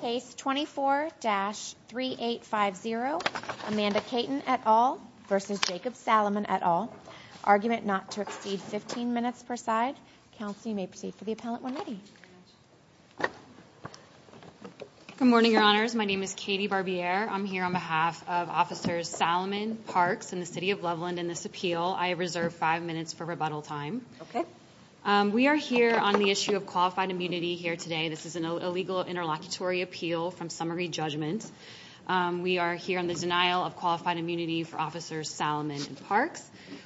Case 24-3850, Amanda Caton et al. v. Jacob Salamon et al. Argument not to exceed 15 minutes per side. Counsel, you may proceed for the appellant when ready. Good morning, Your Honors. My name is Katie Barbier. I'm here on behalf of Officers Salamon, Parks, and the City of Loveland in this appeal. I reserve five minutes for rebuttal time. We are here on the issue of qualified immunity here today. This is an illegal interlocutory appeal from summary judgment. We are here on the denial of qualified immunity for Officers Salamon and Parks.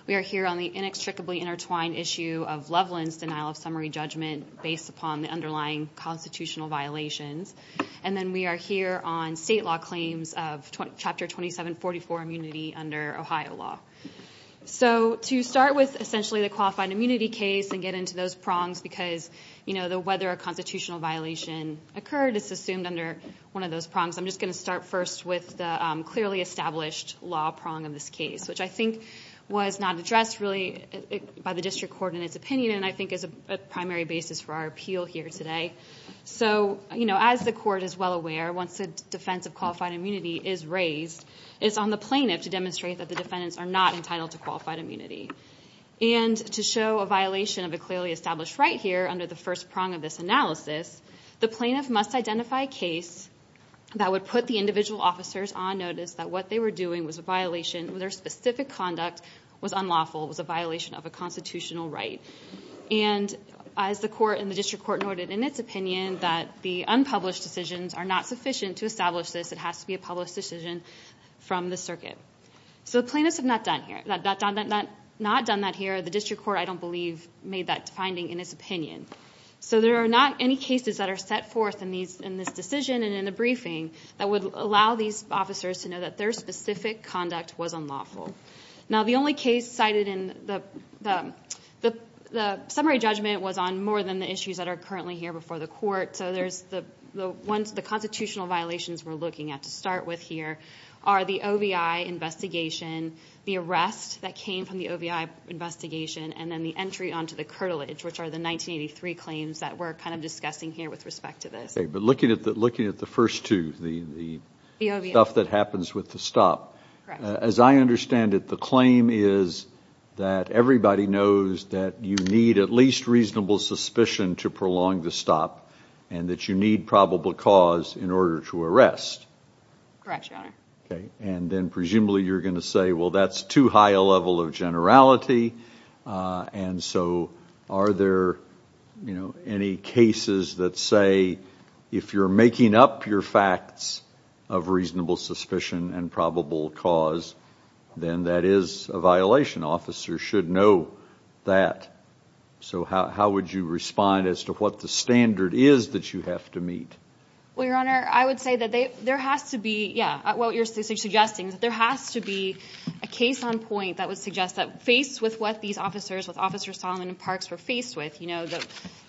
We are here on the inextricably intertwined issue of Loveland's denial of summary judgment based upon the underlying constitutional violations. And then we are here on state law claims of Chapter 2744 immunity under Ohio law. So to start with essentially the qualified immunity case and get into those prongs because whether a constitutional violation occurred is assumed under one of those prongs. I'm just going to start first with the clearly established law prong of this case, which I think was not addressed really by the district court in its opinion and I think is a primary basis for our appeal here today. So as the court is well aware, once a defense of qualified immunity is raised, it's on the plaintiff to demonstrate that the defendants are not entitled to qualified immunity. And to show a violation of a clearly established right here under the first prong of this analysis, the plaintiff must identify a case that would put the individual officers on notice that what they were doing was a violation, their specific conduct was unlawful, was a violation of a constitutional right. And as the court and the district court noted in its opinion that the unpublished decisions are not sufficient to establish this, it has to be a published decision from the circuit. So the plaintiffs have not done that here. The district court, I don't believe, made that finding in its opinion. So there are not any cases that are set forth in this decision and in the briefing that would allow these officers to know that their specific conduct was unlawful. Now the only case cited in the summary judgment was on more than the issues that are currently here before the court. So the constitutional violations we're looking at to start with here are the OVI investigation, the arrest that came from the OVI investigation, and then the entry onto the curtilage, which are the 1983 claims that we're kind of discussing here with respect to this. Okay, but looking at the first two, the stuff that happens with the stop, as I understand it, the claim is that everybody knows that you need at least reasonable suspicion to prolong the stop and that you need probable cause in order to arrest. Correct, Your Honor. Okay, and then presumably you're going to say, well, that's too high a level of generality, and so are there any cases that say if you're making up your facts of reasonable suspicion and probable cause, then that is a violation. Officers should know that. So how would you respond as to what the standard is that you have to meet? Well, Your Honor, I would say that there has to be, yeah, what you're suggesting is that there has to be a case on point that would suggest that faced with what these officers, what Officer Solomon and Parks were faced with,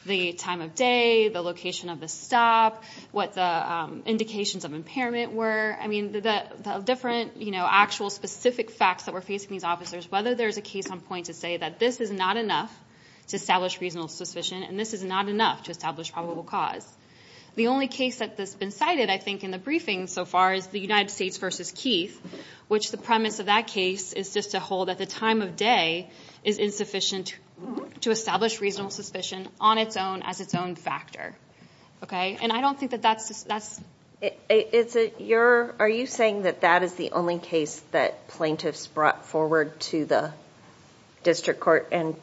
the time of day, the location of the stop, what the indications of impairment were, I mean, the different actual specific facts that were facing these officers, whether there's a case on point to say that this is not enough to establish reasonable suspicion, and this is not enough to establish probable cause. The only case that's been cited, I think, in the briefing so far is the United States v. Keith, which the premise of that case is just to hold that the time of day is insufficient to establish reasonable suspicion on its own as its own factor. Okay? And I don't think that that's... Are you saying that that is the only case that plaintiffs brought forward to the district court and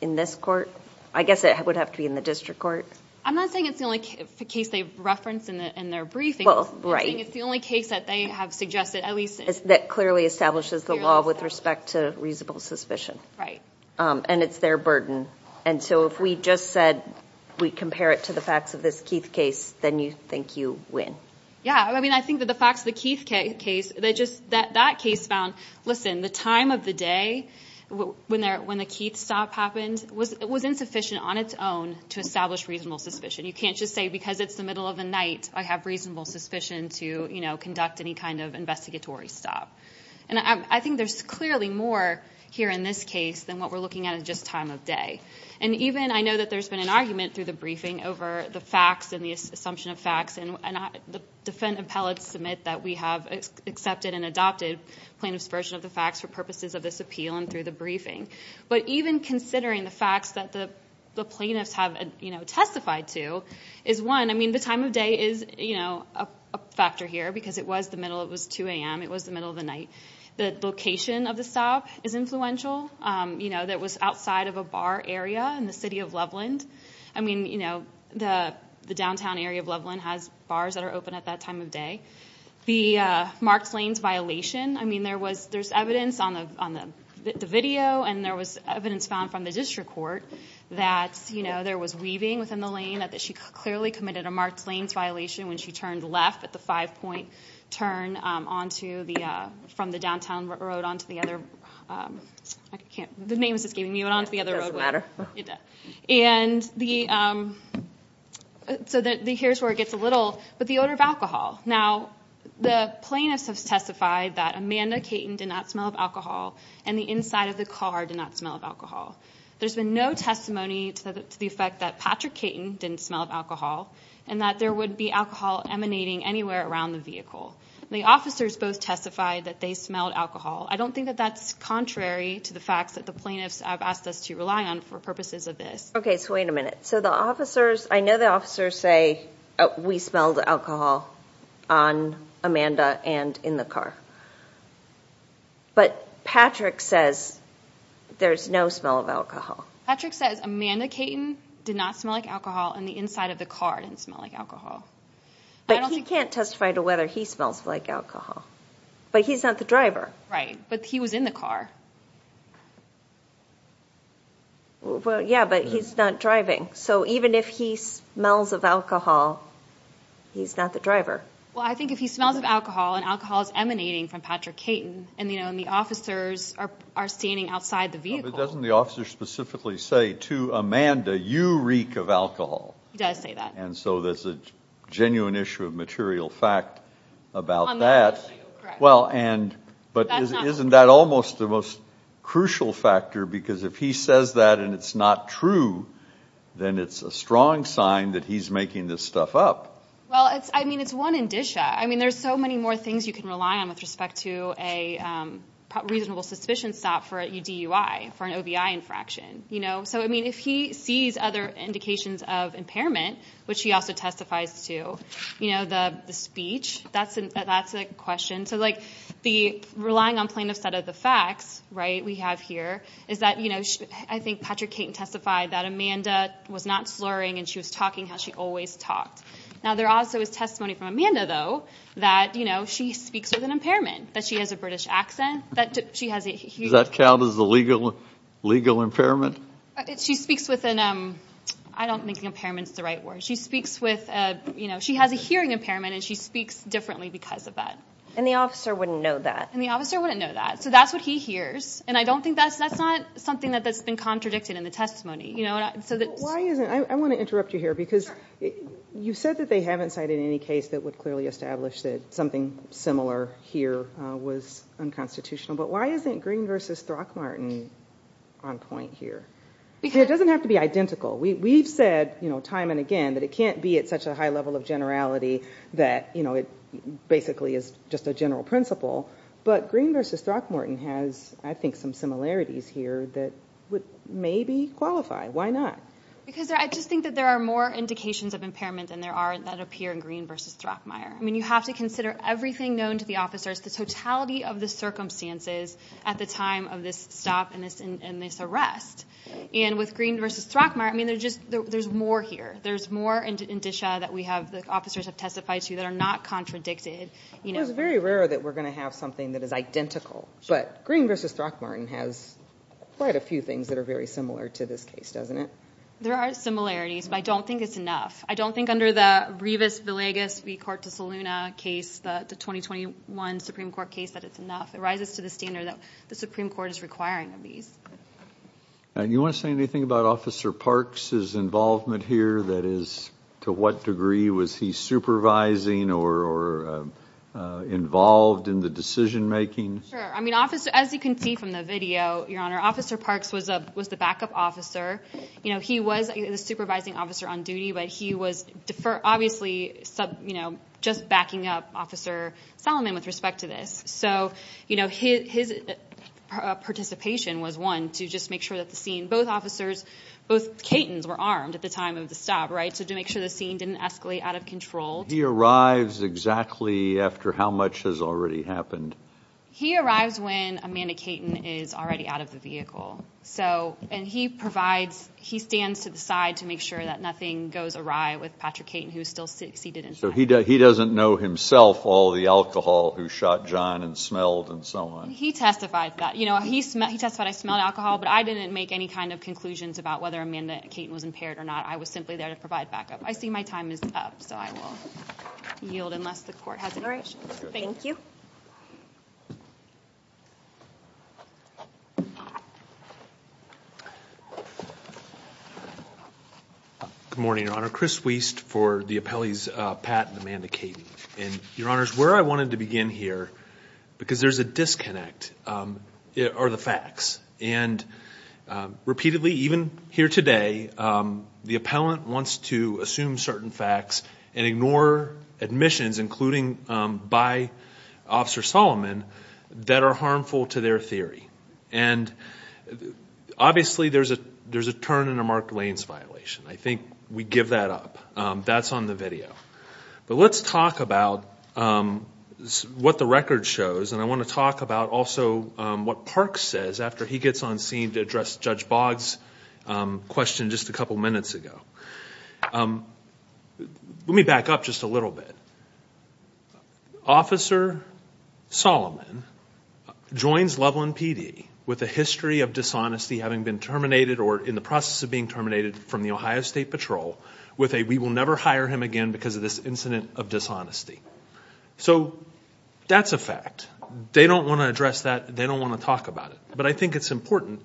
in this court? I guess it would have to be in the district court. I'm not saying it's the only case they've referenced in their briefing. Well, right. I'm saying it's the only case that they have suggested, at least... That clearly establishes the law with respect to reasonable suspicion. Right. And it's their burden. And so if we just said we compare it to the facts of this Keith case, then you think you win. Yeah. I mean, I think that the facts of the Keith case, that case found, listen, the time of the day when the Keith stop happened was insufficient on its own to establish reasonable suspicion. You can't just say because it's the middle of the night, I have reasonable suspicion to, you know, conduct any kind of investigatory stop. And I think there's clearly more here in this case than what we're looking at in just time of day. And even I know that there's been an argument through the briefing over the facts and the assumption of facts, and the defendant appellates submit that we have accepted and adopted plaintiff's version of the facts for purposes of this appeal and through the briefing. But even considering the facts that the plaintiffs have, you know, testified to is one... I mean, the time of day is, you know, a factor here because it was the middle, it was 2am, it was the middle of the night. The location of the stop is influential. You know, that was outside of a bar area in the city of Loveland. I mean, you know, the downtown area of Loveland has bars that are open at that time of day. The marked lanes violation. I mean, there's evidence on the video and there was evidence found from the district court that, you know, there was weaving within the lane, that she clearly committed a marked lanes violation when she turned left at the five-point turn onto the...from the downtown road onto the other... I can't...the name is just giving me... It doesn't matter. And the... So here's where it gets a little... But the odor of alcohol. Now, the plaintiffs have testified that Amanda Caton did not smell of alcohol and the inside of the car did not smell of alcohol. There's been no testimony to the effect that Patrick Caton didn't smell of alcohol and that there would be alcohol emanating anywhere around the vehicle. The officers both testified that they smelled alcohol. I don't think that that's contrary to the facts that the plaintiffs have asked us to rely on for purposes of this. OK, so wait a minute. So the officers... I know the officers say, we smelled alcohol on Amanda and in the car. But Patrick says there's no smell of alcohol. Patrick says Amanda Caton did not smell like alcohol and the inside of the car didn't smell like alcohol. But he can't testify to whether he smells like alcohol. But he's not the driver. Right, but he was in the car. Well, yeah, but he's not driving. So even if he smells of alcohol, he's not the driver. Well, I think if he smells of alcohol and alcohol is emanating from Patrick Caton and the officers are standing outside the vehicle... But doesn't the officer specifically say to Amanda, you reek of alcohol? He does say that. And so there's a genuine issue of material fact about that. But isn't that almost the most crucial factor? Because if he says that and it's not true, then it's a strong sign that he's making this stuff up. Well, I mean, it's one indicia. I mean, there's so many more things you can rely on with respect to a reasonable suspicion stop for a DUI, for an OBI infraction. So, I mean, if he sees other indications of impairment, which he also testifies to, you know, the speech, that's a question. So, like, relying on plaintiff's side of the facts, right, we have here is that, you know, I think Patrick Caton testified that Amanda was not slurring and she was talking how she always talked. Now, there also is testimony from Amanda, though, that, you know, she speaks with an impairment, that she has a British accent, that she has a... Does that count as a legal impairment? She speaks with an... I don't think impairment's the right word. She speaks with a... You know, she has a hearing impairment and she speaks differently because of that. And the officer wouldn't know that. And the officer wouldn't know that. So that's what he hears. And I don't think that's... That's not something that's been contradicted in the testimony. You know, so that... Well, why isn't... I want to interrupt you here because you said that they haven't cited any case that would clearly establish that something similar here was unconstitutional. But why isn't Green v. Throckmorton on point here? It doesn't have to be identical. We've said, you know, time and again, that it can't be at such a high level of generality that, you know, it basically is just a general principle. But Green v. Throckmorton has, I think, some similarities here that would maybe qualify. Why not? Because I just think that there are more indications of impairment than there are that appear in Green v. Throckmorton. I mean, you have to consider everything known to the officers, the totality of the circumstances at the time of this stop and this arrest. And with Green v. Throckmorton, I mean, there's more here. There's more indicia that the officers have testified to that are not contradicted. Well, it's very rare that we're going to have something that is identical. But Green v. Throckmorton has quite a few things that are very similar to this case, doesn't it? There are similarities, but I don't think it's enough. I don't think under the Rivas-Villegas v. Corte de Saluna case, the 2021 Supreme Court case, that it's enough. It rises to the standard that the Supreme Court is requiring of these. Do you want to say anything about Officer Parks' involvement here? That is, to what degree was he supervising or involved in the decision-making? Sure. I mean, as you can see from the video, Your Honor, Officer Parks was the backup officer. He was the supervising officer on duty, but he was obviously just backing up Officer Solomon with respect to this. So, you know, his participation was, one, to just make sure that the scene, both officers, both Catons were armed at the time of the stop, right, so to make sure the scene didn't escalate out of control. He arrives exactly after how much has already happened? He arrives when Amanda Caton is already out of the vehicle. So, and he provides, he stands to the side to make sure that nothing goes awry with Patrick Caton, who is still seated inside. So he doesn't know himself all the alcohol who shot John and smelled and so on? He testified that. You know, he testified I smelled alcohol, but I didn't make any kind of conclusions about whether Amanda Caton was impaired or not. I was simply there to provide backup. I see my time is up, so I will yield unless the Court has any questions. All right. Thank you. Good morning, Your Honor. Chris Wiest for the appellees Pat and Amanda Caton. And, Your Honors, where I wanted to begin here, because there's a disconnect, are the facts. And repeatedly, even here today, the appellant wants to assume certain facts and ignore admissions, including by officers, by officers, that are harmful to their theory. And obviously there's a turn in a marked lanes violation. I think we give that up. That's on the video. But let's talk about what the record shows, and I want to talk about also what Park says after he gets on scene to address Judge Boggs' question just a couple minutes ago. Let me back up just a little bit. Officer Solomon joins Loveland PD with a history of dishonesty having been terminated or in the process of being terminated from the Ohio State Patrol with a we will never hire him again because of this incident of dishonesty. So that's a fact. They don't want to address that. They don't want to talk about it. But I think it's important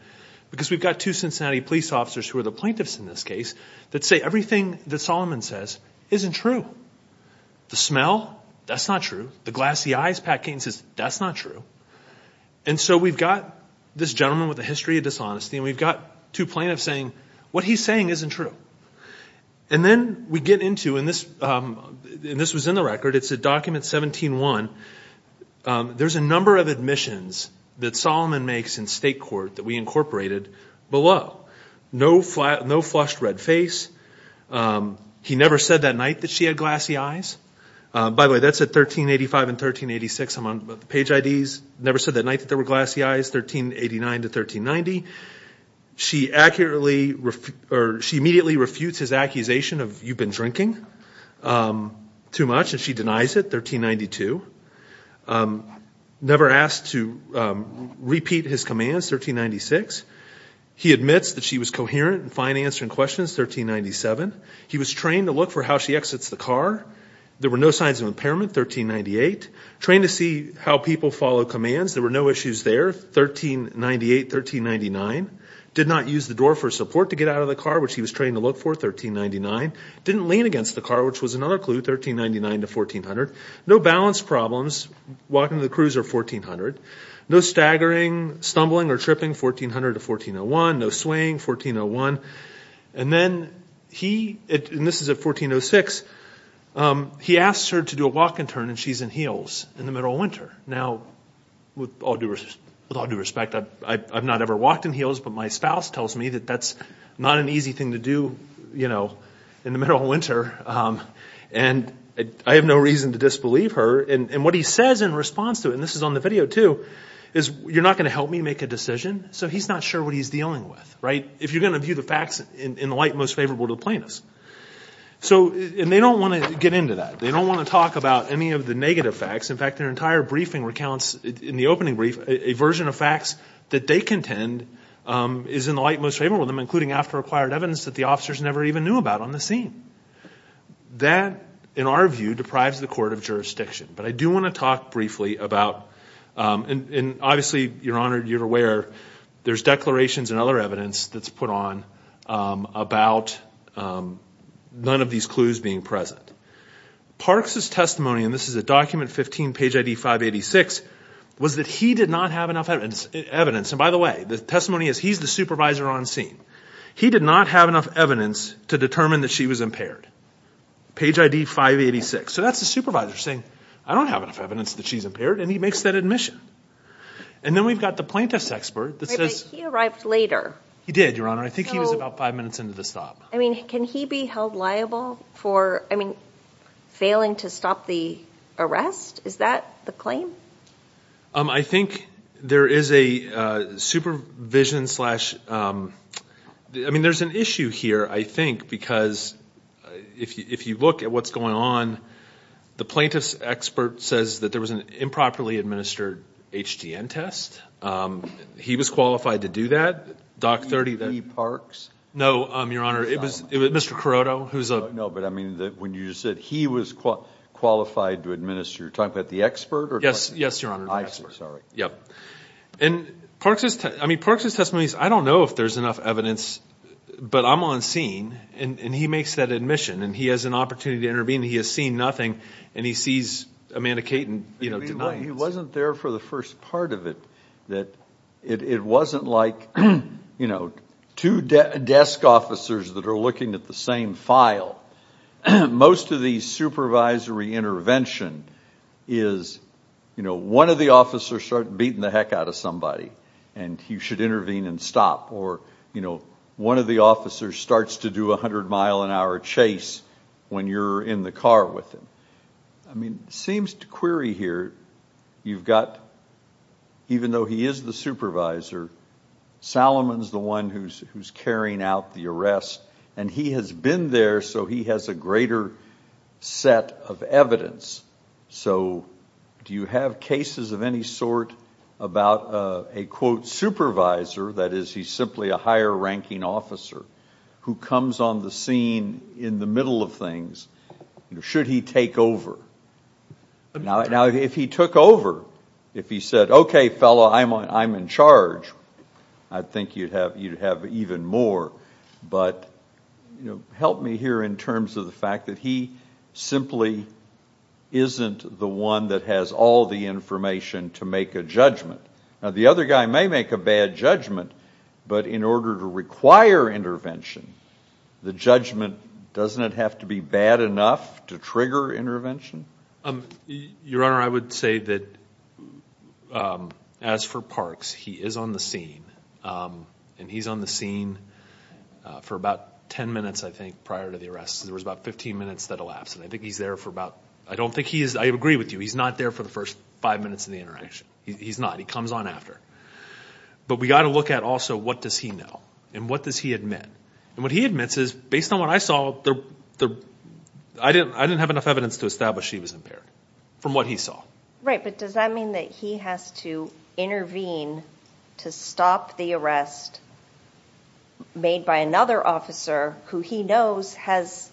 because we've got two Cincinnati police officers who are the plaintiffs in this case that say everything that Solomon says isn't true. The smell, that's not true. The glassy eyes Pat Kane says, that's not true. And so we've got this gentleman with a history of dishonesty and we've got two plaintiffs saying what he's saying isn't true. And then we get into, and this was in the record, it's at document 17-1, there's a number of admissions that Solomon makes in state court that we incorporated below. No flushed red face. He never said that night that she had glassy eyes. By the way, that's at 1385 and 1386. I'm on page IDs. Never said that night that there were glassy eyes, 1389 to 1390. She immediately refutes his accusation of you've been drinking too much, and she denies it, 1392. Never asked to repeat his commands, 1396. He admits that she was coherent and fine answering questions, 1397. He was trained to look for how she exits the car. There were no signs of impairment, 1398. Trained to see how people follow commands. There were no issues there, 1398, 1399. Did not use the door for support to get out of the car, which he was trained to look for, 1399. Didn't lean against the car, which was another clue, 1399 to 1400. No balance problems walking to the cruise or 1400. No staggering, stumbling, or tripping, 1400 to 1401. No swaying, 1401. And then he, and this is at 1406, he asks her to do a walk and turn and she's in heels in the middle of winter. Now, with all due respect, I've not ever walked in heels, but my spouse tells me that that's not an easy thing to do, you know, in the middle of winter, and I have no reason to disbelieve her. And what he says in response to it, and this is on the video too, is you're not going to help me make a decision? So he's not sure what he's dealing with, right? If you're going to view the facts in the light most favorable to the plaintiffs. So, and they don't want to get into that. They don't want to talk about any of the negative facts. In fact, their entire briefing recounts, in the opening brief, a version of facts that they contend is in the light most favorable to them, including after acquired evidence that the officers never even knew about on the scene. That, in our view, deprives the court of jurisdiction. But I do want to talk briefly about, and obviously, Your Honor, you're aware, there's declarations and other evidence that's put on about none of these clues being present. Parks' testimony, and this is at document 15, page ID 586, was that he did not have enough evidence. And by the way, the testimony is he's the supervisor on scene. He did not have enough evidence to determine that she was impaired. Page ID 586. So that's the supervisor saying, I don't have enough evidence that she's impaired, and he makes that admission. And then we've got the plaintiff's expert that says— But he arrived later. He did, Your Honor. I think he was about five minutes into the stop. I mean, can he be held liable for, I mean, failing to stop the arrest? Is that the claim? I think there is a supervision slash—I mean, there's an issue here, I think, because if you look at what's going on, the plaintiff's expert says that there was an improperly administered HGN test. He was qualified to do that. Doc 30— He parks? No, Your Honor. It was Mr. Carotto, who's a— No, but, I mean, when you said he was qualified to administer, you're talking about the expert? Yes, Your Honor, the expert. I see, sorry. And Parks' testimony is, I don't know if there's enough evidence, but I'm on scene, and he makes that admission, and he has an opportunity to intervene, and he has seen nothing, and he sees Amanda Caton— He wasn't there for the first part of it. It wasn't like two desk officers that are looking at the same file. Most of the supervisory intervention is, you know, one of the officers starts beating the heck out of somebody, and he should intervene and stop, or, you know, one of the officers starts to do a 100-mile-an-hour chase when you're in the car with him. I mean, it seems to query here, you've got, even though he is the supervisor, Salomon's the one who's carrying out the arrest, and he has been there, so he has a greater set of evidence. So do you have cases of any sort about a, quote, supervisor, that is he's simply a higher-ranking officer, who comes on the scene in the middle of things? Should he take over? Now, if he took over, if he said, okay, fellow, I'm in charge, I think you'd have even more. But, you know, help me here in terms of the fact that he simply isn't the one that has all the information to make a judgment. Now, the other guy may make a bad judgment, but in order to require intervention, the judgment doesn't have to be bad enough to trigger intervention? Your Honor, I would say that as for Parks, he is on the scene, and he's on the scene for about 10 minutes, I think, prior to the arrest. There was about 15 minutes that elapsed, and I think he's there for about, I don't think he is, I agree with you, he's not there for the first five minutes of the interaction. He's not. He comes on after. But we've got to look at also what does he know, and what does he admit? And what he admits is, based on what I saw, I didn't have enough evidence to establish he was impaired from what he saw. Right, but does that mean that he has to intervene to stop the arrest made by another officer who he knows has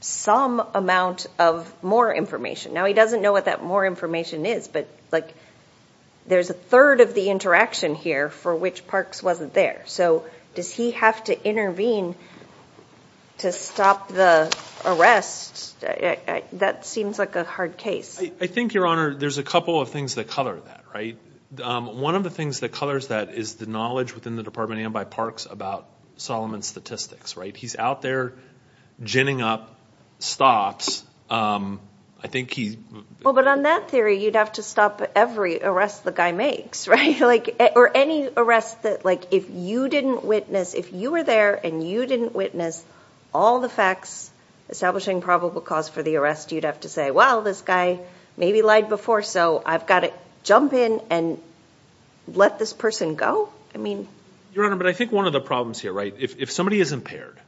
some amount of more information? Now, he doesn't know what that more information is, but there's a third of the interaction here for which Parks wasn't there. So does he have to intervene to stop the arrest? That seems like a hard case. I think, Your Honor, there's a couple of things that color that, right? One of the things that colors that is the knowledge within the Department of Amby Parks about Solomon's statistics, right? He's out there ginning up stops. I think he's – Well, but on that theory, you'd have to stop every arrest the guy makes, right? Or any arrest that, like, if you didn't witness, if you were there and you didn't witness all the facts establishing probable cause for the arrest, you'd have to say, well, this guy maybe lied before, so I've got to jump in and let this person go? I mean – Your Honor, but I think one of the problems here, right, if somebody is impaired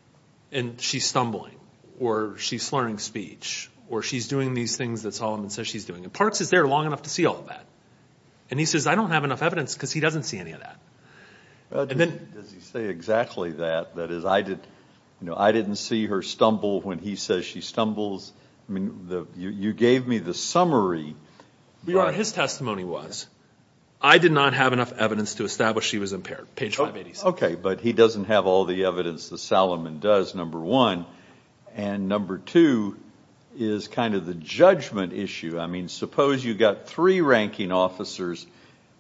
and she's stumbling or she's slurring speech or she's doing these things that Solomon says she's doing, and Parks is there long enough to see all of that, and he says, I don't have enough evidence because he doesn't see any of that. Does he say exactly that? That is, I didn't see her stumble when he says she stumbles. I mean, you gave me the summary. Your Honor, his testimony was, I did not have enough evidence to establish she was impaired, page 586. Okay, but he doesn't have all the evidence that Solomon does, number one. And number two is kind of the judgment issue. I mean, suppose you've got three ranking officers,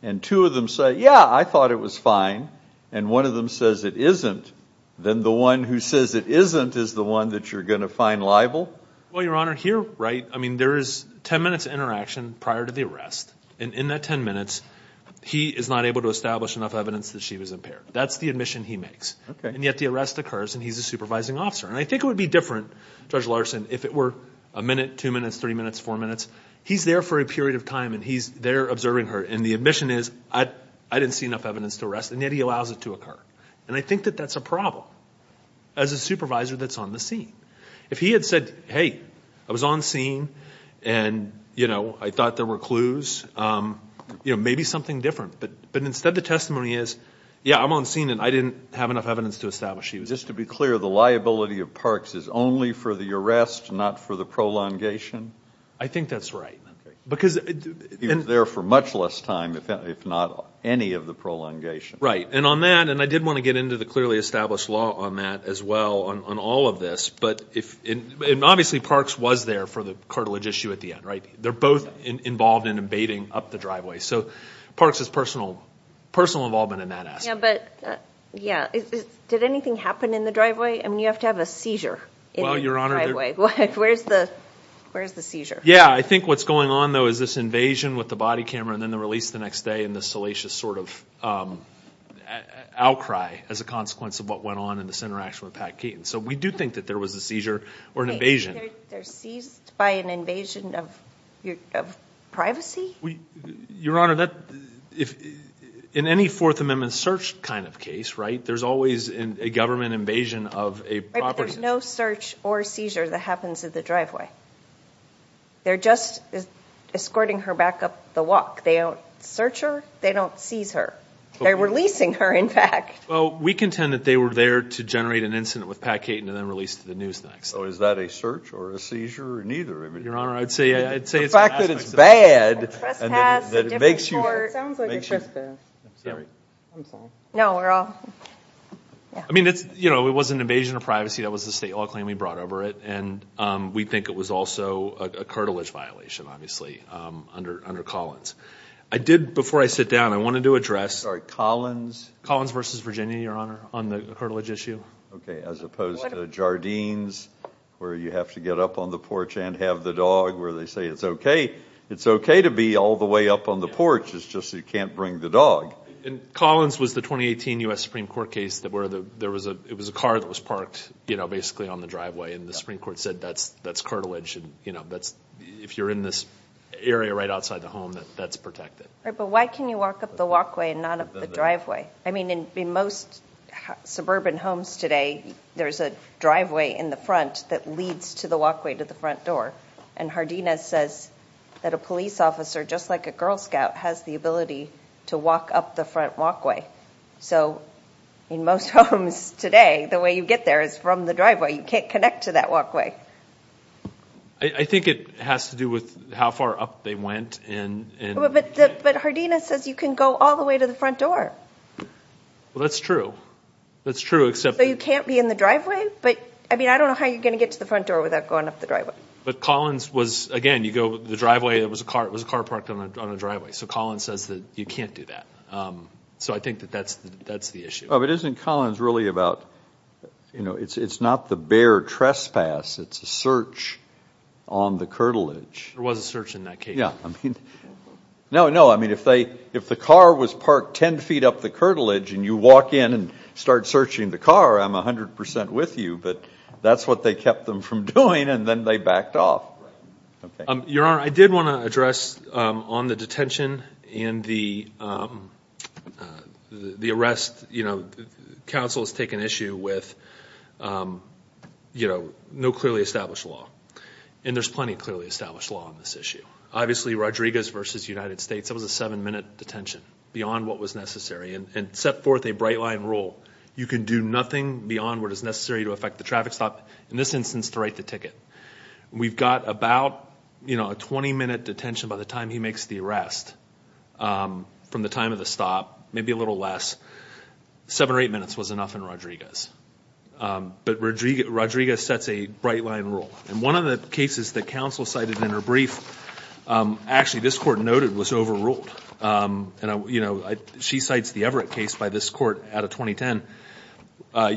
and two of them say, yeah, I thought it was fine, and one of them says it isn't, then the one who says it isn't is the one that you're going to find liable? Well, Your Honor, here, right, I mean, there is ten minutes of interaction prior to the arrest, and in that ten minutes, he is not able to establish enough evidence that she was impaired. That's the admission he makes. And yet the arrest occurs, and he's a supervising officer. And I think it would be different, Judge Larson, if it were a minute, two minutes, three minutes, four minutes. He's there for a period of time, and he's there observing her, and the admission is, I didn't see enough evidence to arrest, and yet he allows it to occur. And I think that that's a problem as a supervisor that's on the scene. If he had said, hey, I was on scene, and, you know, I thought there were clues, you know, maybe something different. But instead the testimony is, yeah, I'm on scene, and I didn't have enough evidence to establish she was. Just to be clear, the liability of Parks is only for the arrest, not for the prolongation? I think that's right. He's there for much less time, if not any of the prolongation. And on that, and I did want to get into the clearly established law on that as well, on all of this, but obviously Parks was there for the cartilage issue at the end, right? They're both involved in abating up the driveway. So Parks' personal involvement in that aspect. Yeah, but did anything happen in the driveway? I mean, you have to have a seizure in the driveway. Well, Your Honor. Where's the seizure? Yeah, I think what's going on though is this invasion with the body camera and then the release the next day and the salacious sort of outcry as a consequence of what went on in this interaction with Pat Keaton. So we do think that there was a seizure or an invasion. Wait, they're seized by an invasion of privacy? Your Honor, in any Fourth Amendment search kind of case, right, there's always a government invasion of a property. There's no search or seizure that happens at the driveway. They're just escorting her back up the walk. They don't search her. They don't seize her. They're releasing her, in fact. Well, we contend that they were there to generate an incident with Pat Keaton and then release it to the news the next day. So is that a search or a seizure or neither? Your Honor, I'd say it's an aspect. The fact that it's bad. It sounds like a trespass. I'm sorry. No, we're all. I mean, it was an invasion of privacy. That was the state law claim. We brought over it. And we think it was also a cartilage violation, obviously, under Collins. I did, before I sit down, I wanted to address Collins versus Virginia, Your Honor, on the cartilage issue. Okay, as opposed to Jardines where you have to get up on the porch and have the dog where they say it's okay. It's okay to be all the way up on the porch. It's just you can't bring the dog. Collins was the 2018 U.S. Supreme Court case where it was a car that was parked, you know, basically on the driveway. And the Supreme Court said that's cartilage. If you're in this area right outside the home, that's protected. But why can you walk up the walkway and not up the driveway? I mean, in most suburban homes today, there's a driveway in the front that leads to the walkway to the front door. And Jardines says that a police officer, just like a Girl Scout, has the ability to walk up the front walkway. So in most homes today, the way you get there is from the driveway. You can't connect to that walkway. I think it has to do with how far up they went. But Jardines says you can go all the way to the front door. Well, that's true. That's true, except that you can't be in the driveway. But, I mean, I don't know how you're going to get to the front door without going up the driveway. But Collins was, again, you go to the driveway, it was a car parked on a driveway. So Collins says that you can't do that. So I think that that's the issue. But isn't Collins really about, you know, it's not the bare trespass. It's a search on the cartilage. There was a search in that case. Yeah. No, no. I mean, if the car was parked 10 feet up the cartilage and you walk in and start searching the car, I'm 100% with you. But that's what they kept them from doing and then they backed off. Right. Your Honor, I did want to address on the detention and the arrest. You know, counsel has taken issue with, you know, no clearly established law. And there's plenty of clearly established law on this issue. Obviously, Rodriguez v. United States, that was a seven-minute detention beyond what was necessary and set forth a bright-line rule. You can do nothing beyond what is necessary to affect the traffic stop, in this instance, to write the ticket. We've got about, you know, a 20-minute detention by the time he makes the arrest from the time of the stop, maybe a little less. Seven or eight minutes was enough in Rodriguez. But Rodriguez sets a bright-line rule. And one of the cases that counsel cited in her brief, actually this court noted was overruled. And, you know, she cites the Everett case by this court out of 2010.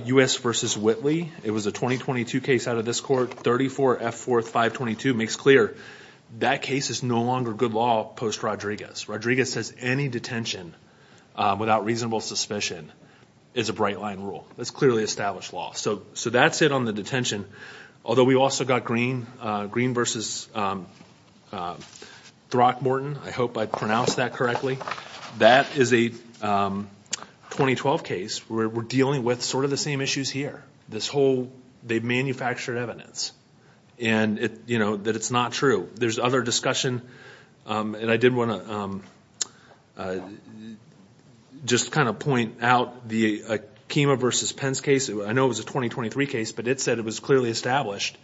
U.S. v. Whitley, it was a 2022 case out of this court. 34-F-4-5-22 makes clear that case is no longer good law post-Rodriguez. Rodriguez says any detention without reasonable suspicion is a bright-line rule. That's clearly established law. So that's it on the detention. Although we also got Green v. Throckmorton. I hope I pronounced that correctly. That is a 2012 case. We're dealing with sort of the same issues here. This whole they've manufactured evidence. And, you know, that it's not true. There's other discussion. And I did want to just kind of point out the Akima v. Pence case. I know it was a 2023 case, but it said it was clearly established.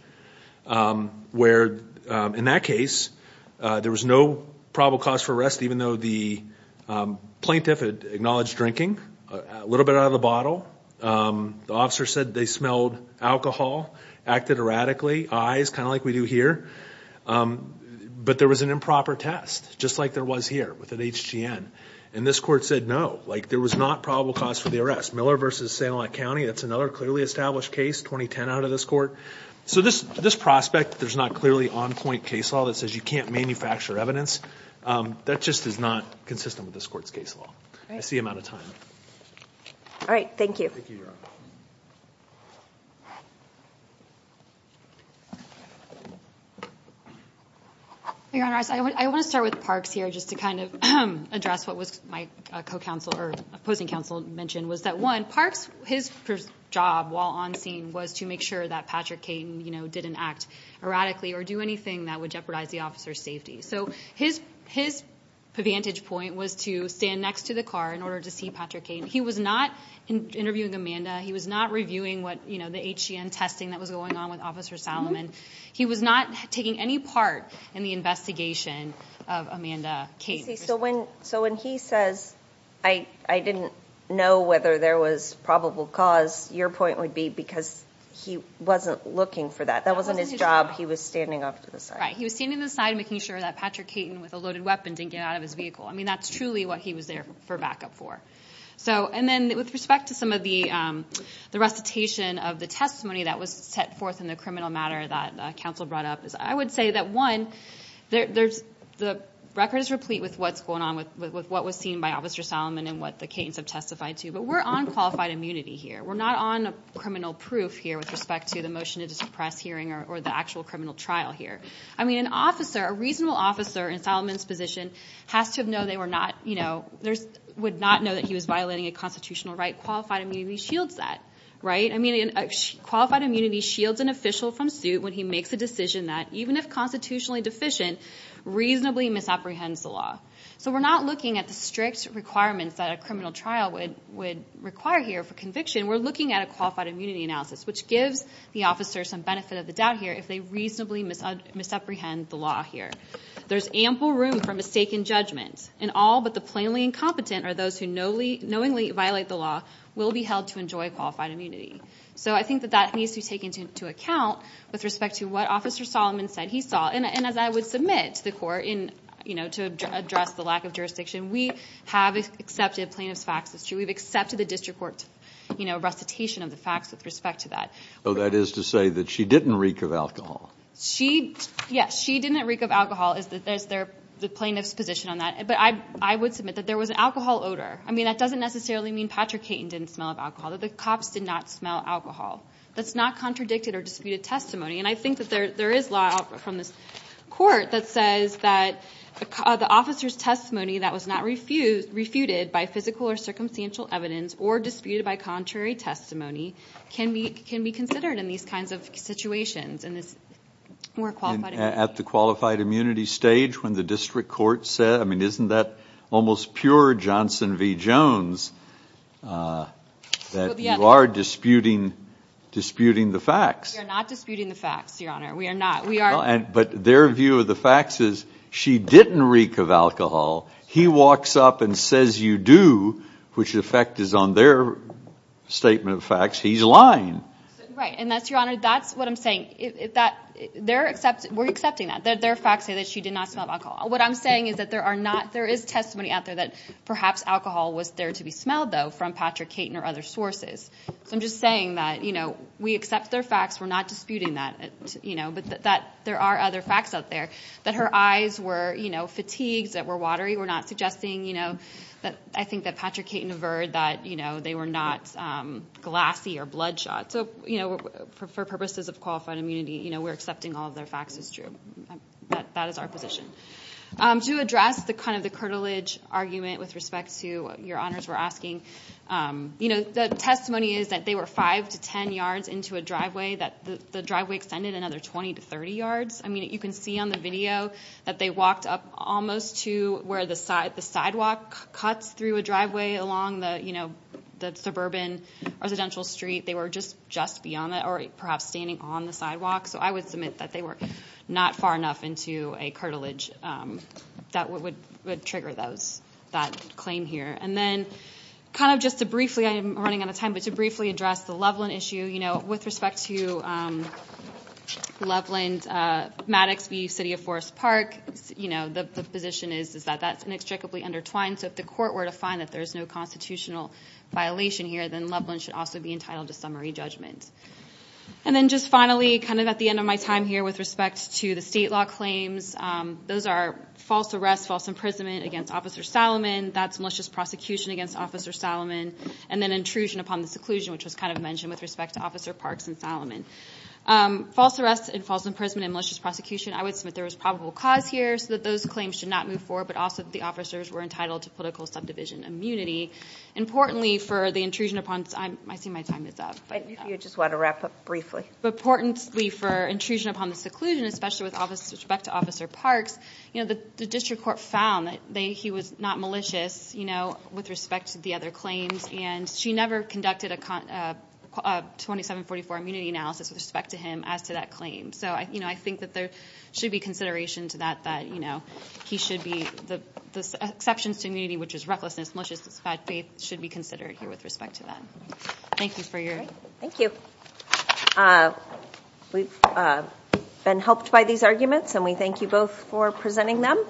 Where, in that case, there was no probable cause for arrest, even though the plaintiff had acknowledged drinking, a little bit out of the bottle. The officer said they smelled alcohol, acted erratically, eyes, kind of like we do here. But there was an improper test, just like there was here with an HGN. And this court said no, like there was not probable cause for the arrest. Miller v. Sanilac County, that's another clearly established case, 2010 out of this court. So this prospect, there's not clearly on-point case law that says you can't manufacture evidence. That just is not consistent with this court's case law. I see I'm out of time. All right. Thank you. Thank you, Your Honor. Your Honor, I want to start with Parks here just to kind of address what my opposing counsel mentioned, was that, one, Parks, his job while on scene was to make sure that Patrick Caton didn't act erratically or do anything that would jeopardize the officer's safety. So his vantage point was to stand next to the car in order to see Patrick Caton. He was not interviewing Amanda. He was not reviewing the HGN testing that was going on with Officer Salomon. He was not taking any part in the investigation of Amanda Caton. So when he says, I didn't know whether there was probable cause, your point would be because he wasn't looking for that. That wasn't his job. He was standing off to the side. Right. He was standing to the side making sure that Patrick Caton, with a loaded weapon, didn't get out of his vehicle. I mean, that's truly what he was there for backup for. And then with respect to some of the recitation of the testimony that was set forth in the criminal matter that counsel brought up, I would say that, one, the record is replete with what's going on, with what was seen by Officer Salomon and what the Catons have testified to. But we're on qualified immunity here. We're not on criminal proof here with respect to the motion to suppress hearing or the actual criminal trial here. I mean, an officer, a reasonable officer in Salomon's position, would not know that he was violating a constitutional right. Qualified immunity shields that. Qualified immunity shields an official from suit when he makes a decision that, even if constitutionally deficient, reasonably misapprehends the law. So we're not looking at the strict requirements that a criminal trial would require here for conviction. We're looking at a qualified immunity analysis, which gives the officer some benefit of the doubt here if they reasonably misapprehend the law here. There's ample room for mistaken judgment. And all but the plainly incompetent are those who knowingly violate the law will be held to enjoy qualified immunity. So I think that that needs to be taken into account with respect to what Officer Salomon said he saw. And as I would submit to the court to address the lack of jurisdiction, we have accepted plaintiff's facts. It's true. We've accepted the district court's recitation of the facts with respect to that. So that is to say that she didn't reek of alcohol? Yes, she didn't reek of alcohol is the plaintiff's position on that. But I would submit that there was an alcohol odor. I mean, that doesn't necessarily mean Patrick Caton didn't smell of alcohol, that the cops did not smell alcohol. That's not contradicted or disputed testimony. And I think that there is law from this court that says that the officer's testimony that was not refuted by physical or circumstantial evidence or disputed by contrary testimony can be considered in these kinds of situations and is more qualified immunity. I mean, isn't that almost pure Johnson v. Jones that you are disputing the facts? We are not disputing the facts, Your Honor. We are not. But their view of the facts is she didn't reek of alcohol. He walks up and says you do, which in effect is on their statement of facts he's lying. Right. And that's, Your Honor, that's what I'm saying. We're accepting that. Their facts say that she did not smell of alcohol. What I'm saying is that there is testimony out there that perhaps alcohol was there to be smelled, though, from Patrick Caton or other sources. So I'm just saying that we accept their facts. We're not disputing that. But there are other facts out there that her eyes were fatigued, that were watery. We're not suggesting that. I think that Patrick Caton averred that they were not glassy or bloodshot. So, you know, for purposes of qualified immunity, you know, we're accepting all of their facts as true. That is our position. To address the kind of the curtilage argument with respect to what Your Honors were asking, you know, the testimony is that they were five to ten yards into a driveway, that the driveway extended another 20 to 30 yards. I mean, you can see on the video that they walked up almost to where the sidewalk cuts through a driveway along the, you know, the suburban residential street. They were just beyond that or perhaps standing on the sidewalk. So I would submit that they were not far enough into a curtilage that would trigger that claim here. And then kind of just to briefly, I'm running out of time, but to briefly address the Loveland issue. You know, with respect to Loveland, Maddox v. City of Forest Park, you know, the position is that that's inextricably intertwined. So if the court were to find that there's no constitutional violation here, then Loveland should also be entitled to summary judgment. And then just finally, kind of at the end of my time here with respect to the state law claims, those are false arrest, false imprisonment against Officer Salomon. That's malicious prosecution against Officer Salomon. And then intrusion upon the seclusion, which was kind of mentioned with respect to Officer Parks and Salomon. False arrest and false imprisonment and malicious prosecution, I would submit there was probable cause here so that those claims should not move forward, but also that the officers were entitled to political subdivision immunity. Importantly for the intrusion upon, I see my time is up. If you just want to wrap up briefly. Importantly for intrusion upon the seclusion, especially with respect to Officer Parks, you know, the district court found that he was not malicious, you know, with respect to the other claims. And she never conducted a 2744 immunity analysis with respect to him as to that claim. So, you know, I think that there should be consideration to that, that, you know, he should be, the exceptions to immunity, which is recklessness, maliciousness, bad faith, should be considered here with respect to that. Thank you for your. Thank you. We've been helped by these arguments, and we thank you both for presenting them.